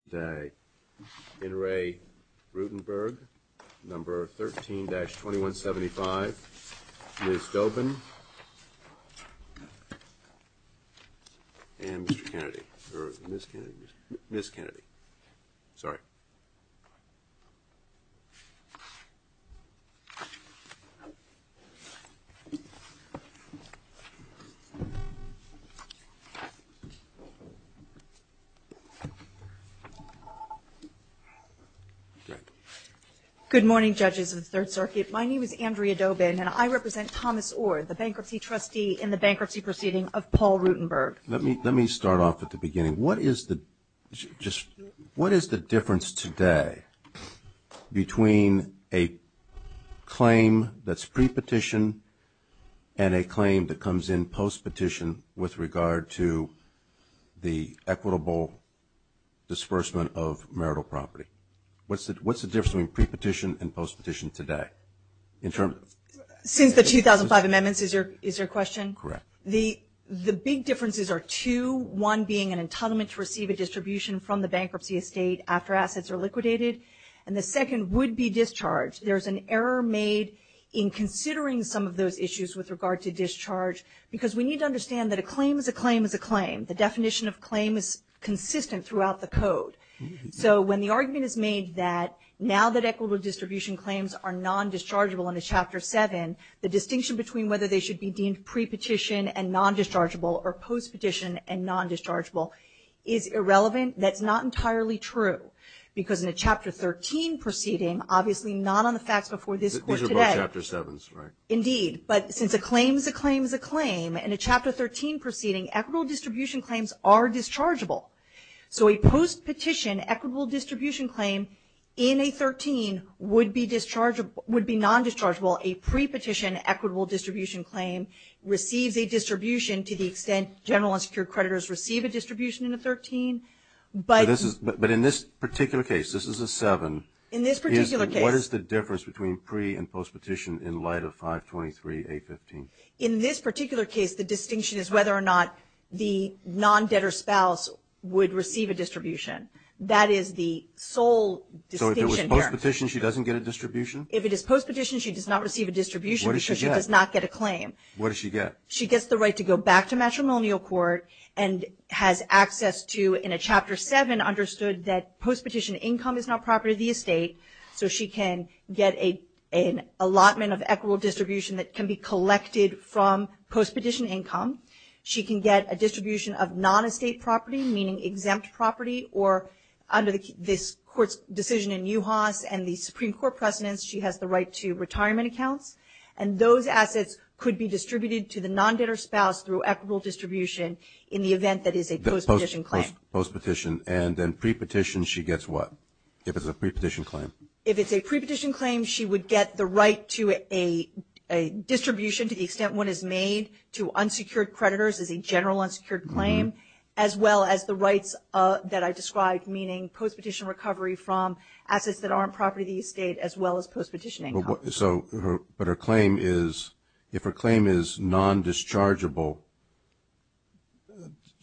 – 2175, Ms. Dobin, and Mr. Kennedy – or Ms. Kennedy. Ms. Kennedy. Sorry. Good morning, Judges of the Third Circuit. My name is Andrea Dobin, and I represent Thomas Orr, the Bankruptcy Trustee in the Bankruptcy Proceedings of Paul Rutenberg. Let me start off at the beginning. What is the difference today between a claim that's pre-petition and a claim that comes in post-petition with regard to the equitable disbursement of marital property? What's the difference between pre-petition and post-petition today? Since the 2005 amendments, is your question? Correct. The big differences are two, one being an entitlement to receive a distribution from the bankruptcy estate after assets are liquidated, and the second would be discharge. There's an error made in considering some of those issues with regard to discharge because we need to understand that a claim is a claim is a claim. The definition of claim is consistent throughout the code. So when the argument is made that now that equitable distribution claims are non-dischargeable in a Chapter 7, the distinction between whether they should be deemed pre-petition and non-dischargeable or post-petition and non-dischargeable is irrelevant. That's not entirely true because in a Chapter 13 proceeding, obviously not on the facts before this court today. These are both Chapter 7s, right? Indeed. But since a claim is a claim is a claim, in a Chapter 13 proceeding, equitable distribution claims are dischargeable. So a post-petition equitable distribution claim in a 13 would be non-dischargeable. A pre-petition equitable distribution claim receives a distribution to the extent general and secured creditors receive a distribution in a 13. But in this particular case, this is a 7, what is the difference between pre- and post-petition in light of 523A15? In this particular case, the distinction is whether or not the non-debtor spouse would receive a distribution. That is the sole distinction here. So if it was post-petition, she doesn't get a distribution? If it is post-petition, she does not receive a distribution because she does not get a claim. What does she get? She gets the right to go back to matrimonial court and has access to, in a Chapter 7, understood that post-petition income is not property of the estate, so she can get an allotment of equitable distribution that can be collected from post-petition income. She can get a distribution of non-estate property, meaning exempt property, or under this Court's decision in UHAAS and the Supreme Court precedents, she has the right to retirement accounts. And those assets could be distributed to the non-debtor spouse through equitable distribution in the event that is a post-petition claim. Post-petition, and then pre-petition, she gets what? If it's a pre-petition claim, she would get the right to a distribution to the extent one is made to unsecured creditors as a general unsecured claim, as well as the rights that I described, meaning post-petition recovery from assets that aren't property of the estate, as well as post-petition income. But her claim is, if her claim is non-dischargeable,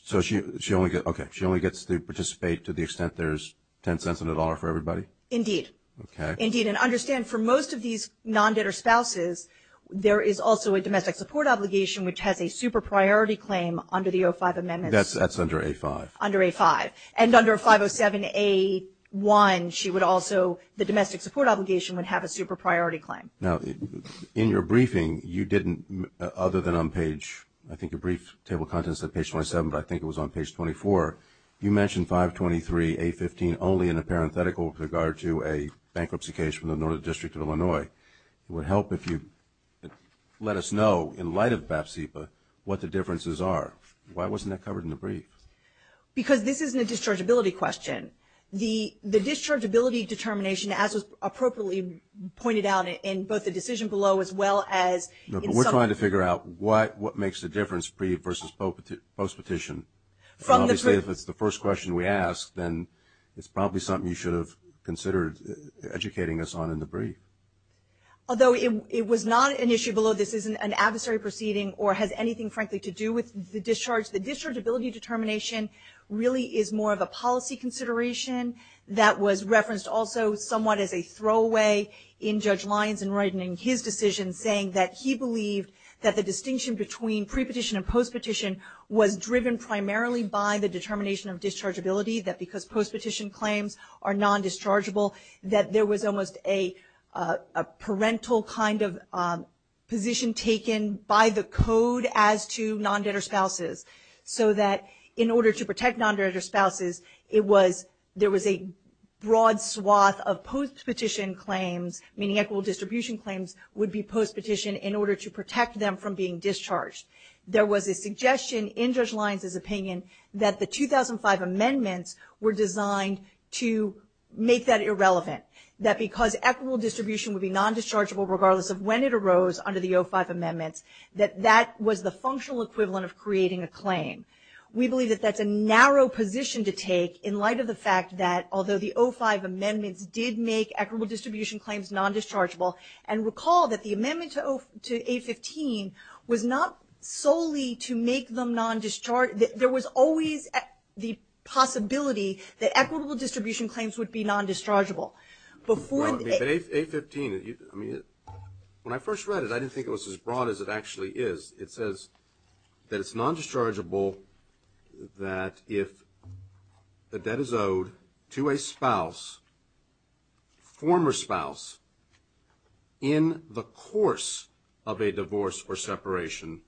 so she only gets, okay, she only gets to participate to the extent there's $0.10 on the dollar for everybody? Indeed. Okay. Indeed. And understand, for most of these non-debtor spouses, there is also a domestic support obligation, which has a super priority claim under the O5 amendments. That's under A5. Under A5. And under 507A1, she would also, the domestic support obligation would have a super priority claim. Now, in your briefing, you didn't, other than on page, I think your brief table of contents said page 27, but I think it was on page 24, you mentioned 523A15 only in a parenthetical with regard to a bankruptcy case from the Northern District of Illinois. It would help if you let us know, in light of BAPSIPA, what the differences are. Why wasn't that covered in the brief? Because this isn't a dischargeability question. The dischargeability determination, as was appropriately pointed out in both the decision below, as well as in some of the briefs. makes the difference pre- versus post-petition? Obviously, if it's the first question we ask, then it's probably something you should have considered educating us on in the brief. Although it was not an issue below, this isn't an adversary proceeding or has anything, frankly, to do with the discharge. The dischargeability determination really is more of a policy consideration that was referenced also somewhat as a throwaway in Judge Lyons in writing his decision, saying that he believed that the distinction between pre-petition and post-petition was driven primarily by the determination of dischargeability, that because post-petition claims are non-dischargeable, that there was almost a parental kind of position taken by the Code as to non-debtor spouses, so that in order to protect non-debtor spouses, there was a broad swath of post-petition claims, meaning equitable distribution claims would be post-petition in order to protect them from being discharged. There was a suggestion in Judge Lyons' opinion that the 2005 amendments were designed to make that irrelevant, that because equitable distribution would be non-dischargeable regardless of when it arose under the 05 amendments, that that was the functional equivalent of creating a claim. We believe that that's a narrow position to take in light of the fact that although the 05 amendments did make equitable distribution claims non-dischargeable, and recall that the amendment to 815 was not solely to make them non-dischargeable. There was always the possibility that equitable distribution claims would be non-dischargeable. Before the... But 815, I mean, when I first read it, I didn't think it was as broad as it actually is. It is non-dischargeable that if the debt is owed to a spouse, former spouse, in the course of a divorce or separation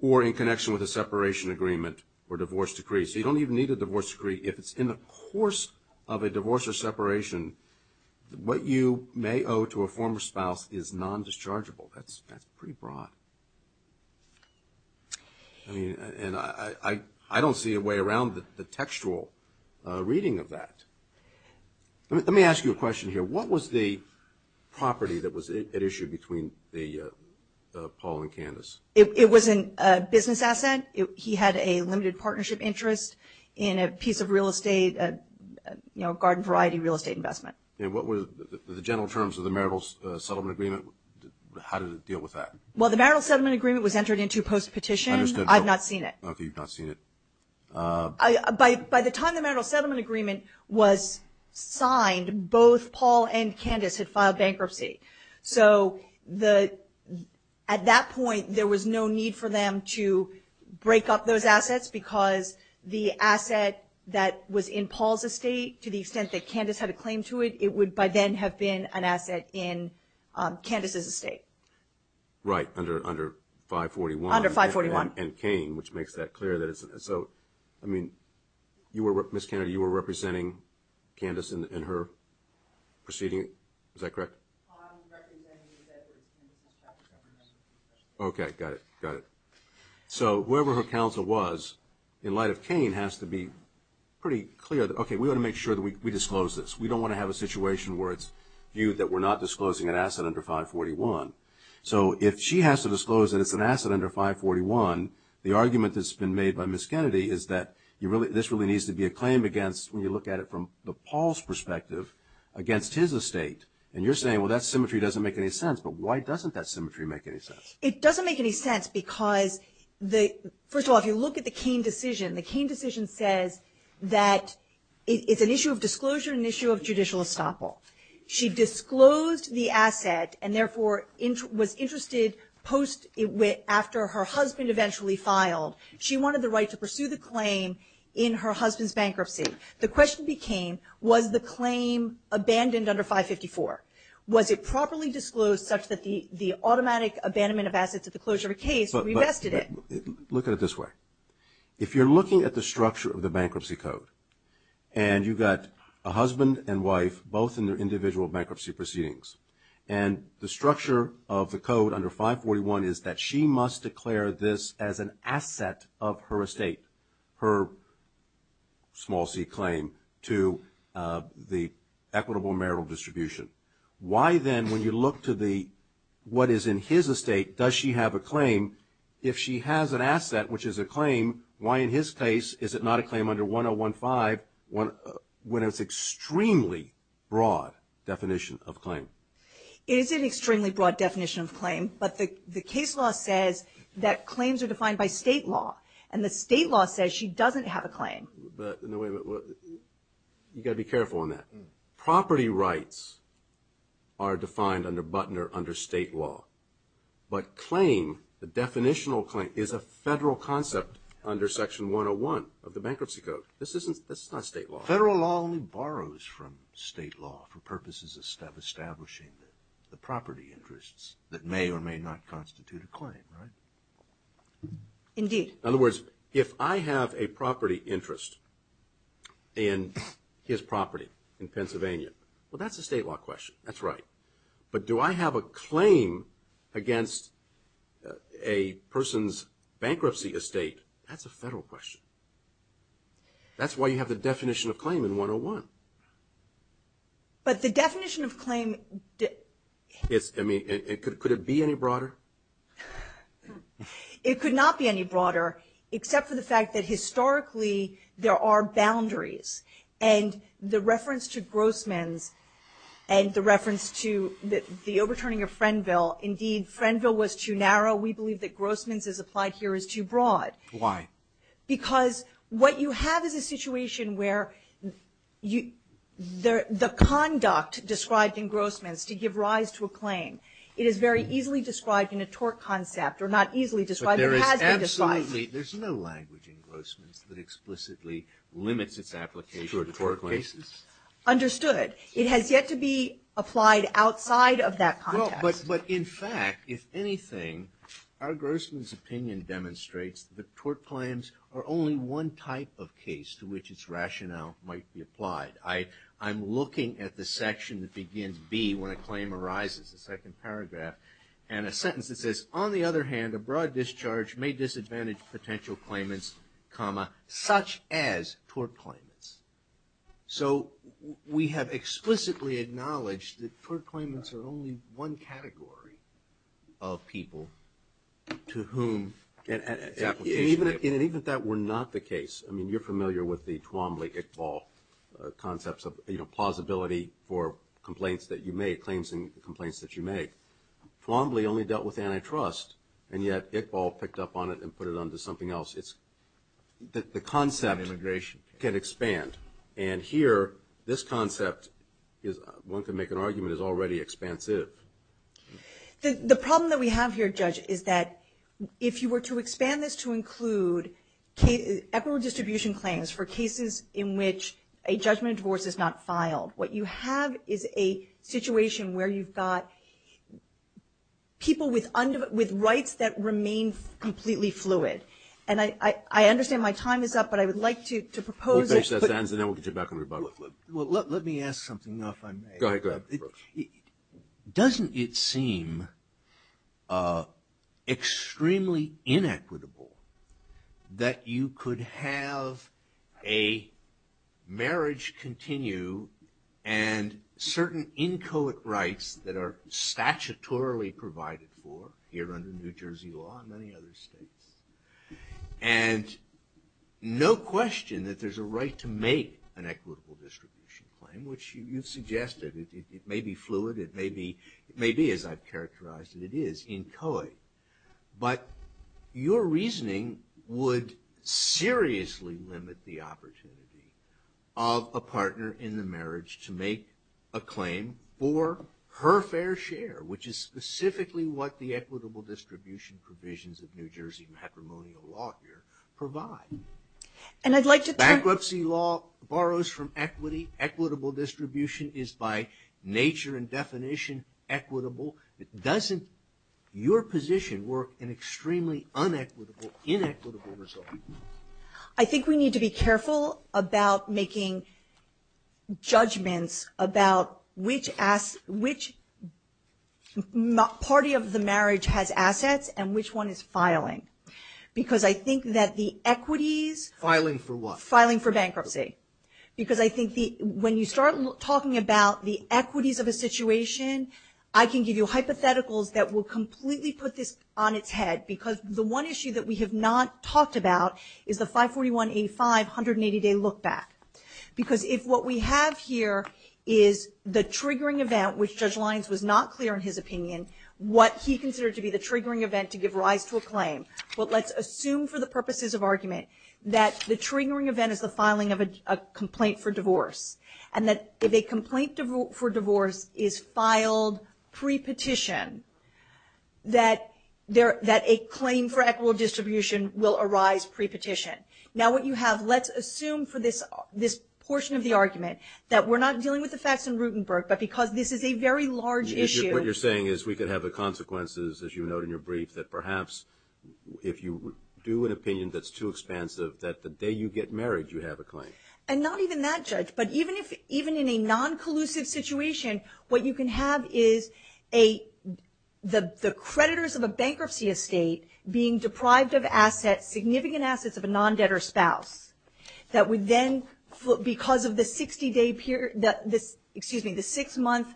or in connection with a separation agreement or divorce decree. So you don't even need a divorce decree if it's in the course of a divorce or separation. What you may owe to a former spouse is non-dischargeable. That's pretty broad. I mean, and I don't see a way around the textual reading of that. Let me ask you a question here. What was the property that was at issue between Paul and Candace? It was a business asset. He had a limited partnership interest in a piece of real estate, a garden variety real estate investment. And what were the general terms of the marital settlement agreement? How did it deal with that? Well, the marital settlement agreement was entered into post-petition. Understood. I've not seen it. Okay, you've not seen it. By the time the marital settlement agreement was signed, both Paul and Candace had filed bankruptcy. So at that point, there was no need for them to break up those assets because the asset that was in Paul's estate, to the extent that Candace had a claim to it, it would by then have been an asset in Candace's estate. Right, under 541. Under 541. And Kane, which makes that clear. So, I mean, Ms. Kennedy, you were representing Candace in her proceeding? Is that correct? I'm representing Candace. Okay, got it, got it. So whoever her counsel was, in light of Kane, has to be pretty clear that, okay, we want to make sure that we disclose this. We don't want to have a situation where it's viewed that we're not disclosing an asset under 541. So if she has to disclose that it's an asset under 541, the argument that's been made by Ms. Kennedy is that this really needs to be a claim against, when you look at it from Paul's perspective, against his estate. And you're saying, well, that symmetry doesn't make any sense, but why doesn't that symmetry make any sense? It doesn't make any sense because, first of all, if you look at the Kane decision, the Kane decision says that it's an issue of disclosure and an issue of judicial estoppel. She disclosed the asset and therefore was interested post, after her husband eventually filed, she wanted the right to pursue the claim in her husband's bankruptcy. The question became, was the claim abandoned under 554? Was it properly disclosed such that the automatic abandonment of assets at the closure of a case revested it? Look at it this way. If you're looking at the structure of the bankruptcy code and you got a husband and wife, both in their individual bankruptcy proceedings, and the structure of the code under 541 is that she must declare this as an asset of her estate, her small bankruptcy claim, to the equitable marital distribution. Why then, when you look to the, what is in his estate, does she have a claim? If she has an asset, which is a claim, why in his case is it not a claim under 1015, when it's an extremely broad definition of claim? It is an extremely broad definition of claim, but the case law says that claims are defined by state law. And the state law says she doesn't have a claim. You've got to be careful on that. Property rights are defined under Butner under state law. But claim, the definitional claim, is a federal concept under section 101 of the bankruptcy code. This is not state law. Federal law only borrows from state law for purposes of establishing the property interests that may or may not constitute a claim, right? Indeed. In other words, if I have a property interest in his property in Pennsylvania, well, that's a state law question. That's right. But do I have a claim against a person's bankruptcy estate? That's a federal question. That's why you have the definition of claim in 101. But the definition of claim... Could it be any broader? It could not be any broader, except for the fact that historically there are boundaries. And the reference to Grossman's and the reference to the overturning of Frenville, indeed, Frenville was too narrow. We believe that Grossman's, as applied here, is too broad. Why? Because what you have is a situation where the conduct described in Grossman's to give rise to a claim. It is very easily described in a tort concept, or not easily described, but has But there is absolutely, there's no language in Grossman's that explicitly limits its application to tort cases? Understood. It has yet to be applied outside of that context. But in fact, if anything, our Grossman's opinion demonstrates that tort claims are only one type of case to which its rationale might be applied. I'm looking at the section that begins B when a claim arises, the second paragraph, and a sentence that says, on the other hand, a broad discharge may disadvantage potential claimants, such as tort claimants. So we have explicitly acknowledged that tort claimants are only one category of people to whom... And even if that were not the case, I mean, you're familiar with the concepts of plausibility for complaints that you make, claims in complaints that you make. Flombley only dealt with antitrust, and yet Iqbal picked up on it and put it onto something else. The concept can expand. And here, this concept is, one can make an argument, is already expansive. The problem that we have here, Judge, is that if you were to expand this to not filed. What you have is a situation where you've got people with rights that remain completely fluid. And I understand my time is up, but I would like to propose... We'll finish that sentence, and then we'll get you back on rebuttal. Well, let me ask something, if I may. Go ahead. Doesn't it seem extremely inequitable that you could have a marriage continue and certain inchoate rights that are statutorily provided for here under New Jersey law and many other states? And no question that there's a right to make an equitable distribution claim, which you've suggested. It may be fluid. It may be, as I've characterized it, it is inchoate. But your reasoning would seriously limit the opportunity of a partner in the marriage to make a claim for her fair share, which is specifically what the equitable distribution provisions of New Jersey matrimonial law here provide. And I'd like to... New Jersey law borrows from equity. Equitable distribution is, by nature and definition, equitable. Doesn't your position work in extremely unequitable, inequitable results? I think we need to be careful about making judgments about which party of the marriage has assets and which one is filing. Because I think that the equities... Filing for what? Because I think when you start talking about the equities of a situation, I can give you hypotheticals that will completely put this on its head. Because the one issue that we have not talked about is the 541A5 180-day look-back. Because if what we have here is the triggering event, which Judge Lyons was not clear in his opinion, what he considered to be the triggering event to give rise to a claim. But let's assume for the purposes of argument that the triggering event is the filing of a complaint for divorce. And that if a complaint for divorce is filed pre-petition, that a claim for equitable distribution will arise pre-petition. Now what you have... Let's assume for this portion of the argument that we're not dealing with the facts in Rutenberg, but because this is a very large issue... What you're saying is we could have the consequences, as you note in your brief, that perhaps if you do an opinion that's too expansive, that the day you get married, you have a claim. And not even that, Judge. But even in a non-collusive situation, what you can have is the creditors of a bankruptcy estate being deprived of significant assets of a non-debtor spouse that would then, because of the 60-day period... Excuse me, the six-month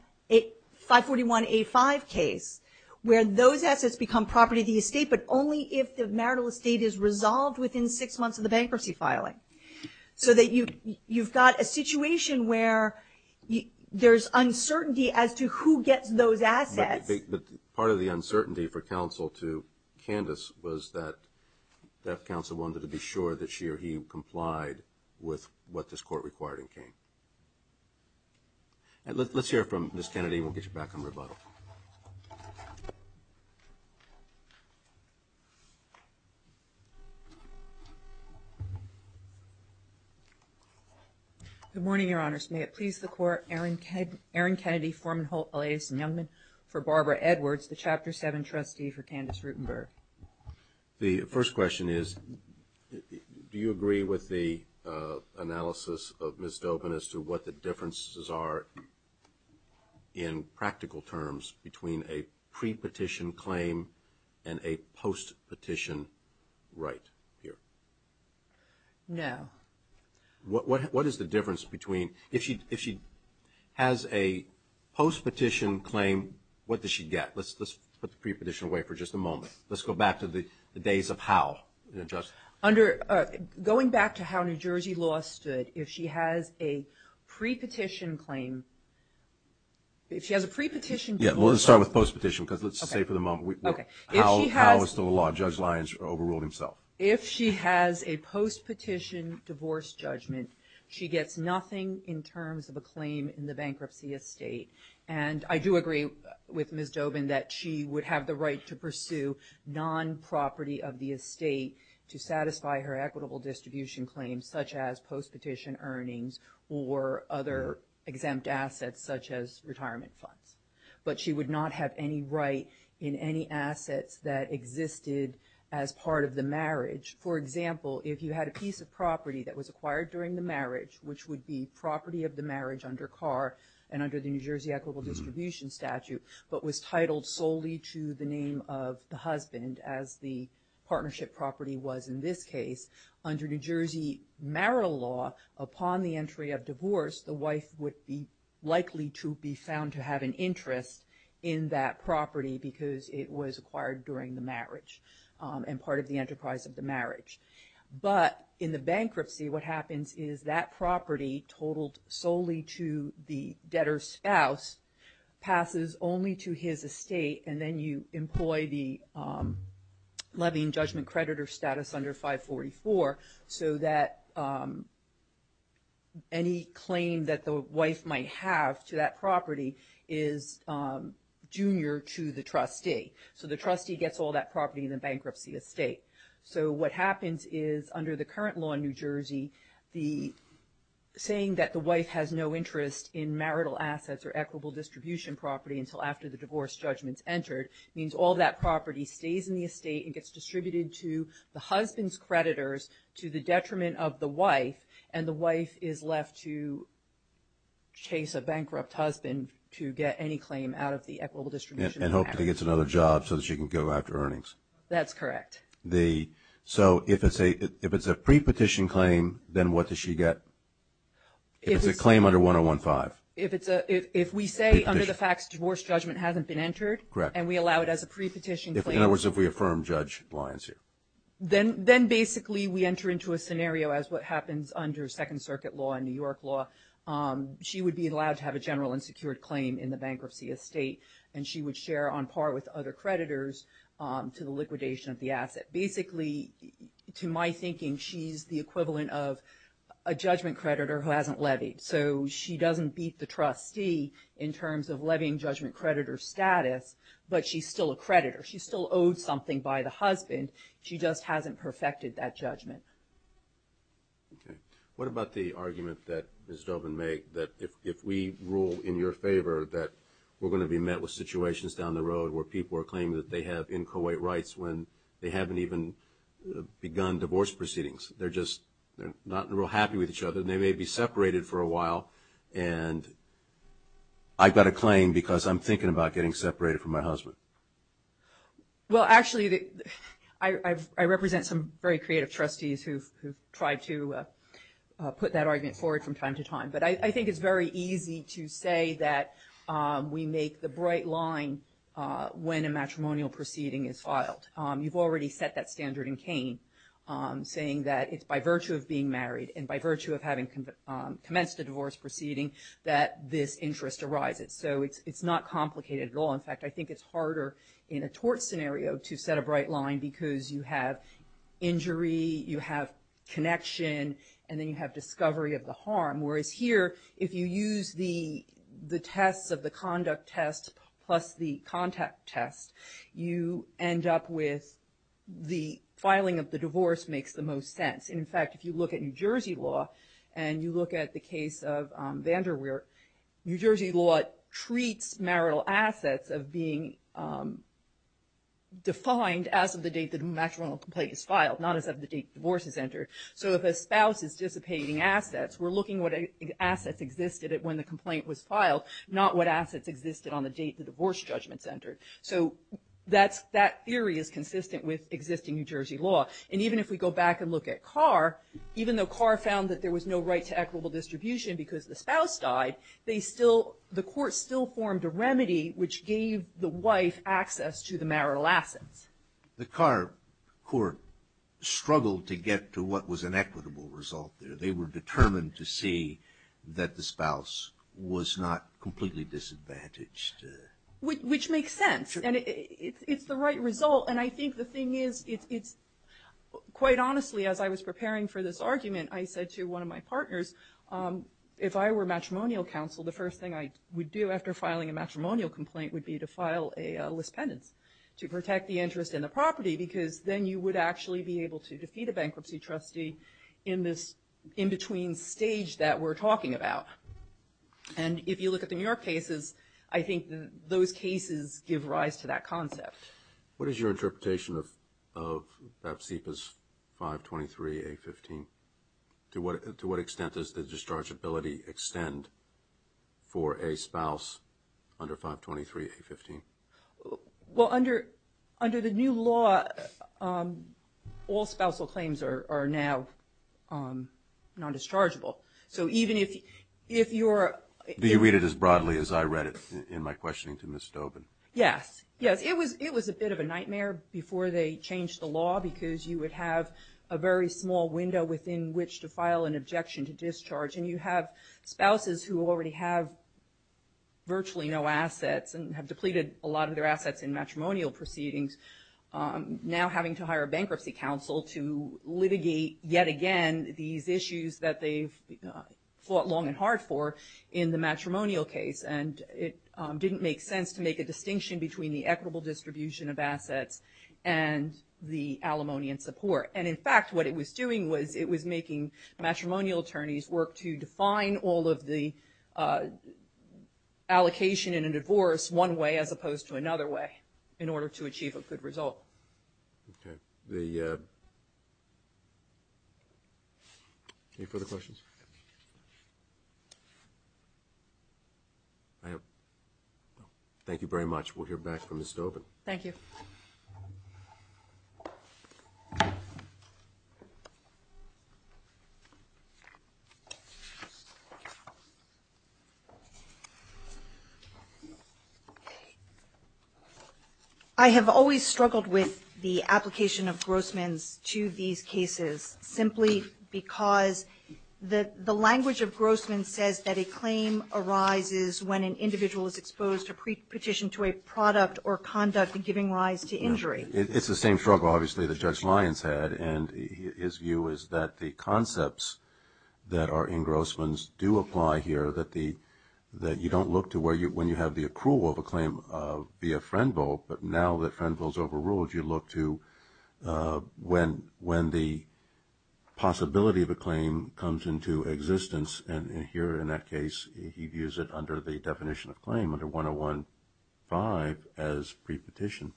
541A5 case, where those assets become property of the estate, but only if the marital estate is resolved within six months of the settlement. So that you've got a situation where there's uncertainty as to who gets those assets. But part of the uncertainty for counsel to Candace was that counsel wanted to be sure that she or he complied with what this court required in Kane. Let's hear from Ms. Kennedy, and we'll get you back on rebuttal. Good morning, Your Honors. May it please the Court, Erin Kennedy, Foreman, Holt, Elias, and Youngman for Barbara Edwards, the Chapter 7 trustee for Candace Rutenberg. The first question is, do you agree with the analysis of Ms. Dobin as to what the differences are in practical terms between a pre-petition claim and a post-petition right here? No. What is the difference between, if she has a post-petition claim, what does she get? Let's put the pre-petition away for just a moment. Let's go back to the days of Howe. Under, going back to how New Jersey law stood, if she has a pre-petition claim, if she has a pre-petition... Yeah, let's start with post-petition, because let's just say for the moment Howe was still in law, Judge Lyons overruled himself. If she has a post-petition divorce judgment, she gets nothing in terms of a claim in the bankruptcy estate. And I do agree with Ms. Dobin that she would have the right to pursue non- property of the estate to satisfy her equitable distribution claims such as post-petition earnings or other exempt assets such as retirement funds. But she would not have any right in any assets that existed as part of the marriage. For example, if you had a piece of property that was acquired during the marriage, which would be property of the marriage under Carr and under the New Jersey equitable distribution statute, but was titled solely to the name of the husband as the partnership property was in this case, under New Jersey marital law, upon the entry of divorce, the wife would be likely to be of an interest in that property because it was acquired during the marriage and part of the enterprise of the marriage. But in the bankruptcy, what happens is that property totaled solely to the debtor's spouse passes only to his estate. And then you employ the levy and judgment creditor status under 544. So that any claim that the wife might have to that property is junior to the trustee. So the trustee gets all that property in the bankruptcy estate. So what happens is under the current law in New Jersey, the saying that the wife has no interest in marital assets or equitable distribution property until after the divorce judgments entered means all that property stays in the estate and gets distributed to the husband's creditors to the detriment of the wife and the wife is left to chase a bankrupt husband to get any claim out of the equitable distribution. And hopefully gets another job so that she can go after earnings. That's correct. So if it's a pre-petition claim, then what does she get? If it's a claim under 1015. If we say under the facts divorce judgment hasn't been entered and we allow it as a pre-petition claim. In other words, if we affirm Judge Lyons here. Then basically we enter into a scenario as what happens under Second Circuit law and New York law. She would be allowed to have a general and secured claim in the bankruptcy estate and she would share on par with other creditors to the liquidation of the asset. Basically, to my thinking, she's the equivalent of a judgment creditor who hasn't levied. So she doesn't beat the trustee in terms of levying judgment creditor status, but she's still a creditor. She's still owed something by the husband. She just hasn't perfected that judgment. Okay. What about the argument that Ms. Dobin made that if we rule in your favor that we're going to be met with situations down the road where people are claiming that they have inchoate rights when they haven't even begun divorce proceedings. They're just not real happy with each other. They may be separated for a while. And I've got a claim because I'm thinking about getting separated from my husband. Well, actually, I represent some very creative trustees who've tried to put that argument forward from time to time. But I think it's very easy to say that we make the bright line when a matrimonial proceeding is filed. You've already set that standard in Kane saying that it's by virtue of being a matrimonial divorce proceeding that this interest arises. So it's not complicated at all. In fact, I think it's harder in a tort scenario to set a bright line because you have injury, you have connection, and then you have discovery of the harm. Whereas here, if you use the tests of the conduct test plus the contact test, you end up with the filing of the divorce makes the most sense. And in fact, if you look at New Jersey law and you look at the case of VanderWeer, New Jersey law treats marital assets of being defined as of the date the matrimonial complaint is filed, not as of the date divorce is entered. So if a spouse is dissipating assets, we're looking at what assets existed when the complaint was filed, not what assets existed on the date the divorce judgment's entered. So that theory is consistent with existing New Jersey law. And even if we go back and look at Carr, even though Carr found that there was no right to equitable distribution because the spouse died, the court still formed a remedy which gave the wife access to the marital assets. The Carr court struggled to get to what was an equitable result there. They were determined to see that the spouse was not completely disadvantaged. Which makes sense. It's the right result. And I think the thing is, quite honestly, as I was preparing for this argument, I said to one of my partners, if I were matrimonial counsel, the first thing I would do after filing a matrimonial complaint would be to file a lispendence to protect the interest in the property because then you would actually be able to defeat a bankruptcy trustee in this in-between stage that we're talking about. And if you look at the New York cases, I think those cases give rise to that concept. What is your interpretation of BAPSIPA's 523A15? To what extent does the dischargeability extend for a spouse under 523A15? Well, under the new law, all spousal claims are now non-dischargeable. Do you read it as broadly as I read it in my questioning to Ms. Stobin? Yes. It was a bit of a nightmare before they changed the law because you would have a very small window within which to file an objection to discharge. And you have spouses who already have virtually no assets and have depleted a lot of their assets in matrimonial proceedings now having to hire a long and hard for in the matrimonial case. And it didn't make sense to make a distinction between the equitable distribution of assets and the alimony and support. And in fact, what it was doing was it was making matrimonial attorneys work to define all of the allocation in a divorce one way as opposed to another way in order to achieve a good result. Okay. Any further questions? Thank you very much. We'll hear back from Ms. Stobin. Thank you. Ms. Stobin. I have always struggled with the application of Grossman's to these cases simply because the language of Grossman's says that a claim arises when an It's the same struggle, obviously, that Judge Lyons had. And his view is that the concepts that are in Grossman's do apply here, that you don't look to when you have the approval of a claim via Frenville, but now that Frenville is overruled, you look to when the possibility of a claim comes into existence. And here in that case, he views it under the definition of claim, under 101.5 as pre-petition.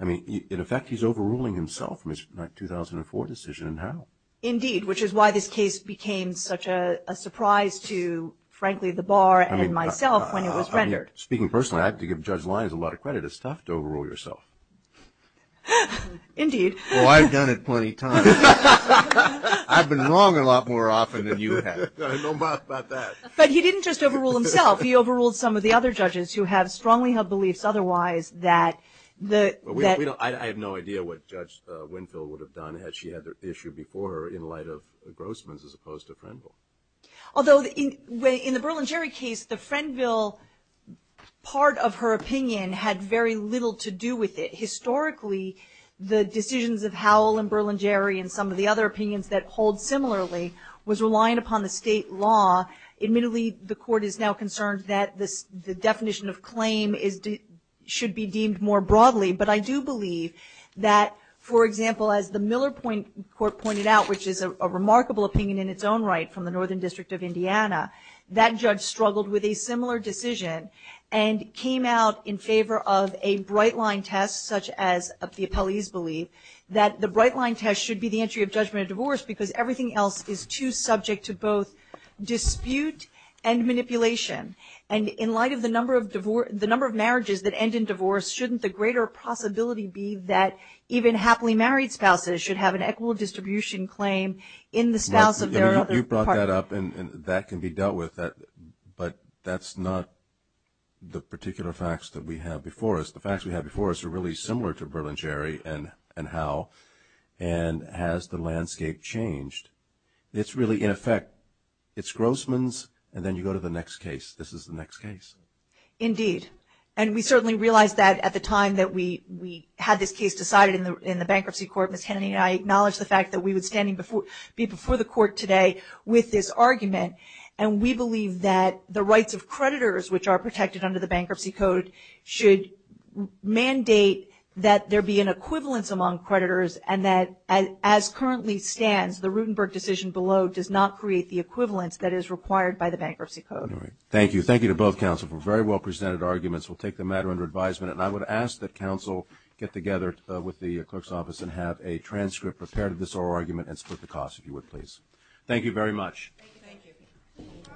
I mean, in effect, he's overruling himself from his 2004 decision and how. Indeed, which is why this case became such a surprise to, frankly, the bar and myself when it was rendered. Speaking personally, I have to give Judge Lyons a lot of credit. It's tough to overrule yourself. Indeed. Well, I've done it plenty of times. I've been wrong a lot more often than you have. No, not that. But he didn't just overrule himself. He overruled some of the other judges who have strongly held beliefs otherwise that the – I have no idea what Judge Winfield would have done had she had the issue before her in light of Grossman's as opposed to Frenville. Although in the Berlingeri case, the Frenville part of her opinion had very little to do with it. Historically, the decisions of Howell and Berlingeri and some of the other opinions that hold similarly was reliant upon the state law. Admittedly, the court is now concerned that the definition of claim should be deemed more broadly. But I do believe that, for example, as the Miller Court pointed out, which is a remarkable opinion in its own right from the Northern District of Indiana, that judge struggled with a similar decision and came out in favor of a bright-line test such as the appellee's belief that the bright-line test should be the entry of judgment of divorce because everything else is too subject to both dispute and manipulation. And in light of the number of marriages that end in divorce, shouldn't the greater possibility be that even happily married spouses should have an equal distribution claim in the spouse of their other partner? You brought that up, and that can be dealt with, but that's not the particular facts that we have before us. The facts we have before us are really similar to Berlingeri and Howell. And has the landscape changed? It's really, in effect, it's Grossman's, and then you go to the next case. This is the next case. Indeed. And we certainly realized that at the time that we had this case decided in the bankruptcy court. Ms. Kennedy and I acknowledged the fact that we would be standing before the court today with this argument. And we believe that the rights of creditors, which are protected under the Bankruptcy Code, should mandate that there be an equivalence among creditors and that, as currently stands, the Rutenberg decision below does not create the equivalence that is required by the Bankruptcy Code. Thank you. Thank you to both counsel for very well presented arguments. We'll take the matter under advisement. And I would ask that counsel get together with the clerk's office and have a transcript prepared of this oral argument and split the cost, if you would, please. Thank you very much. Thank you.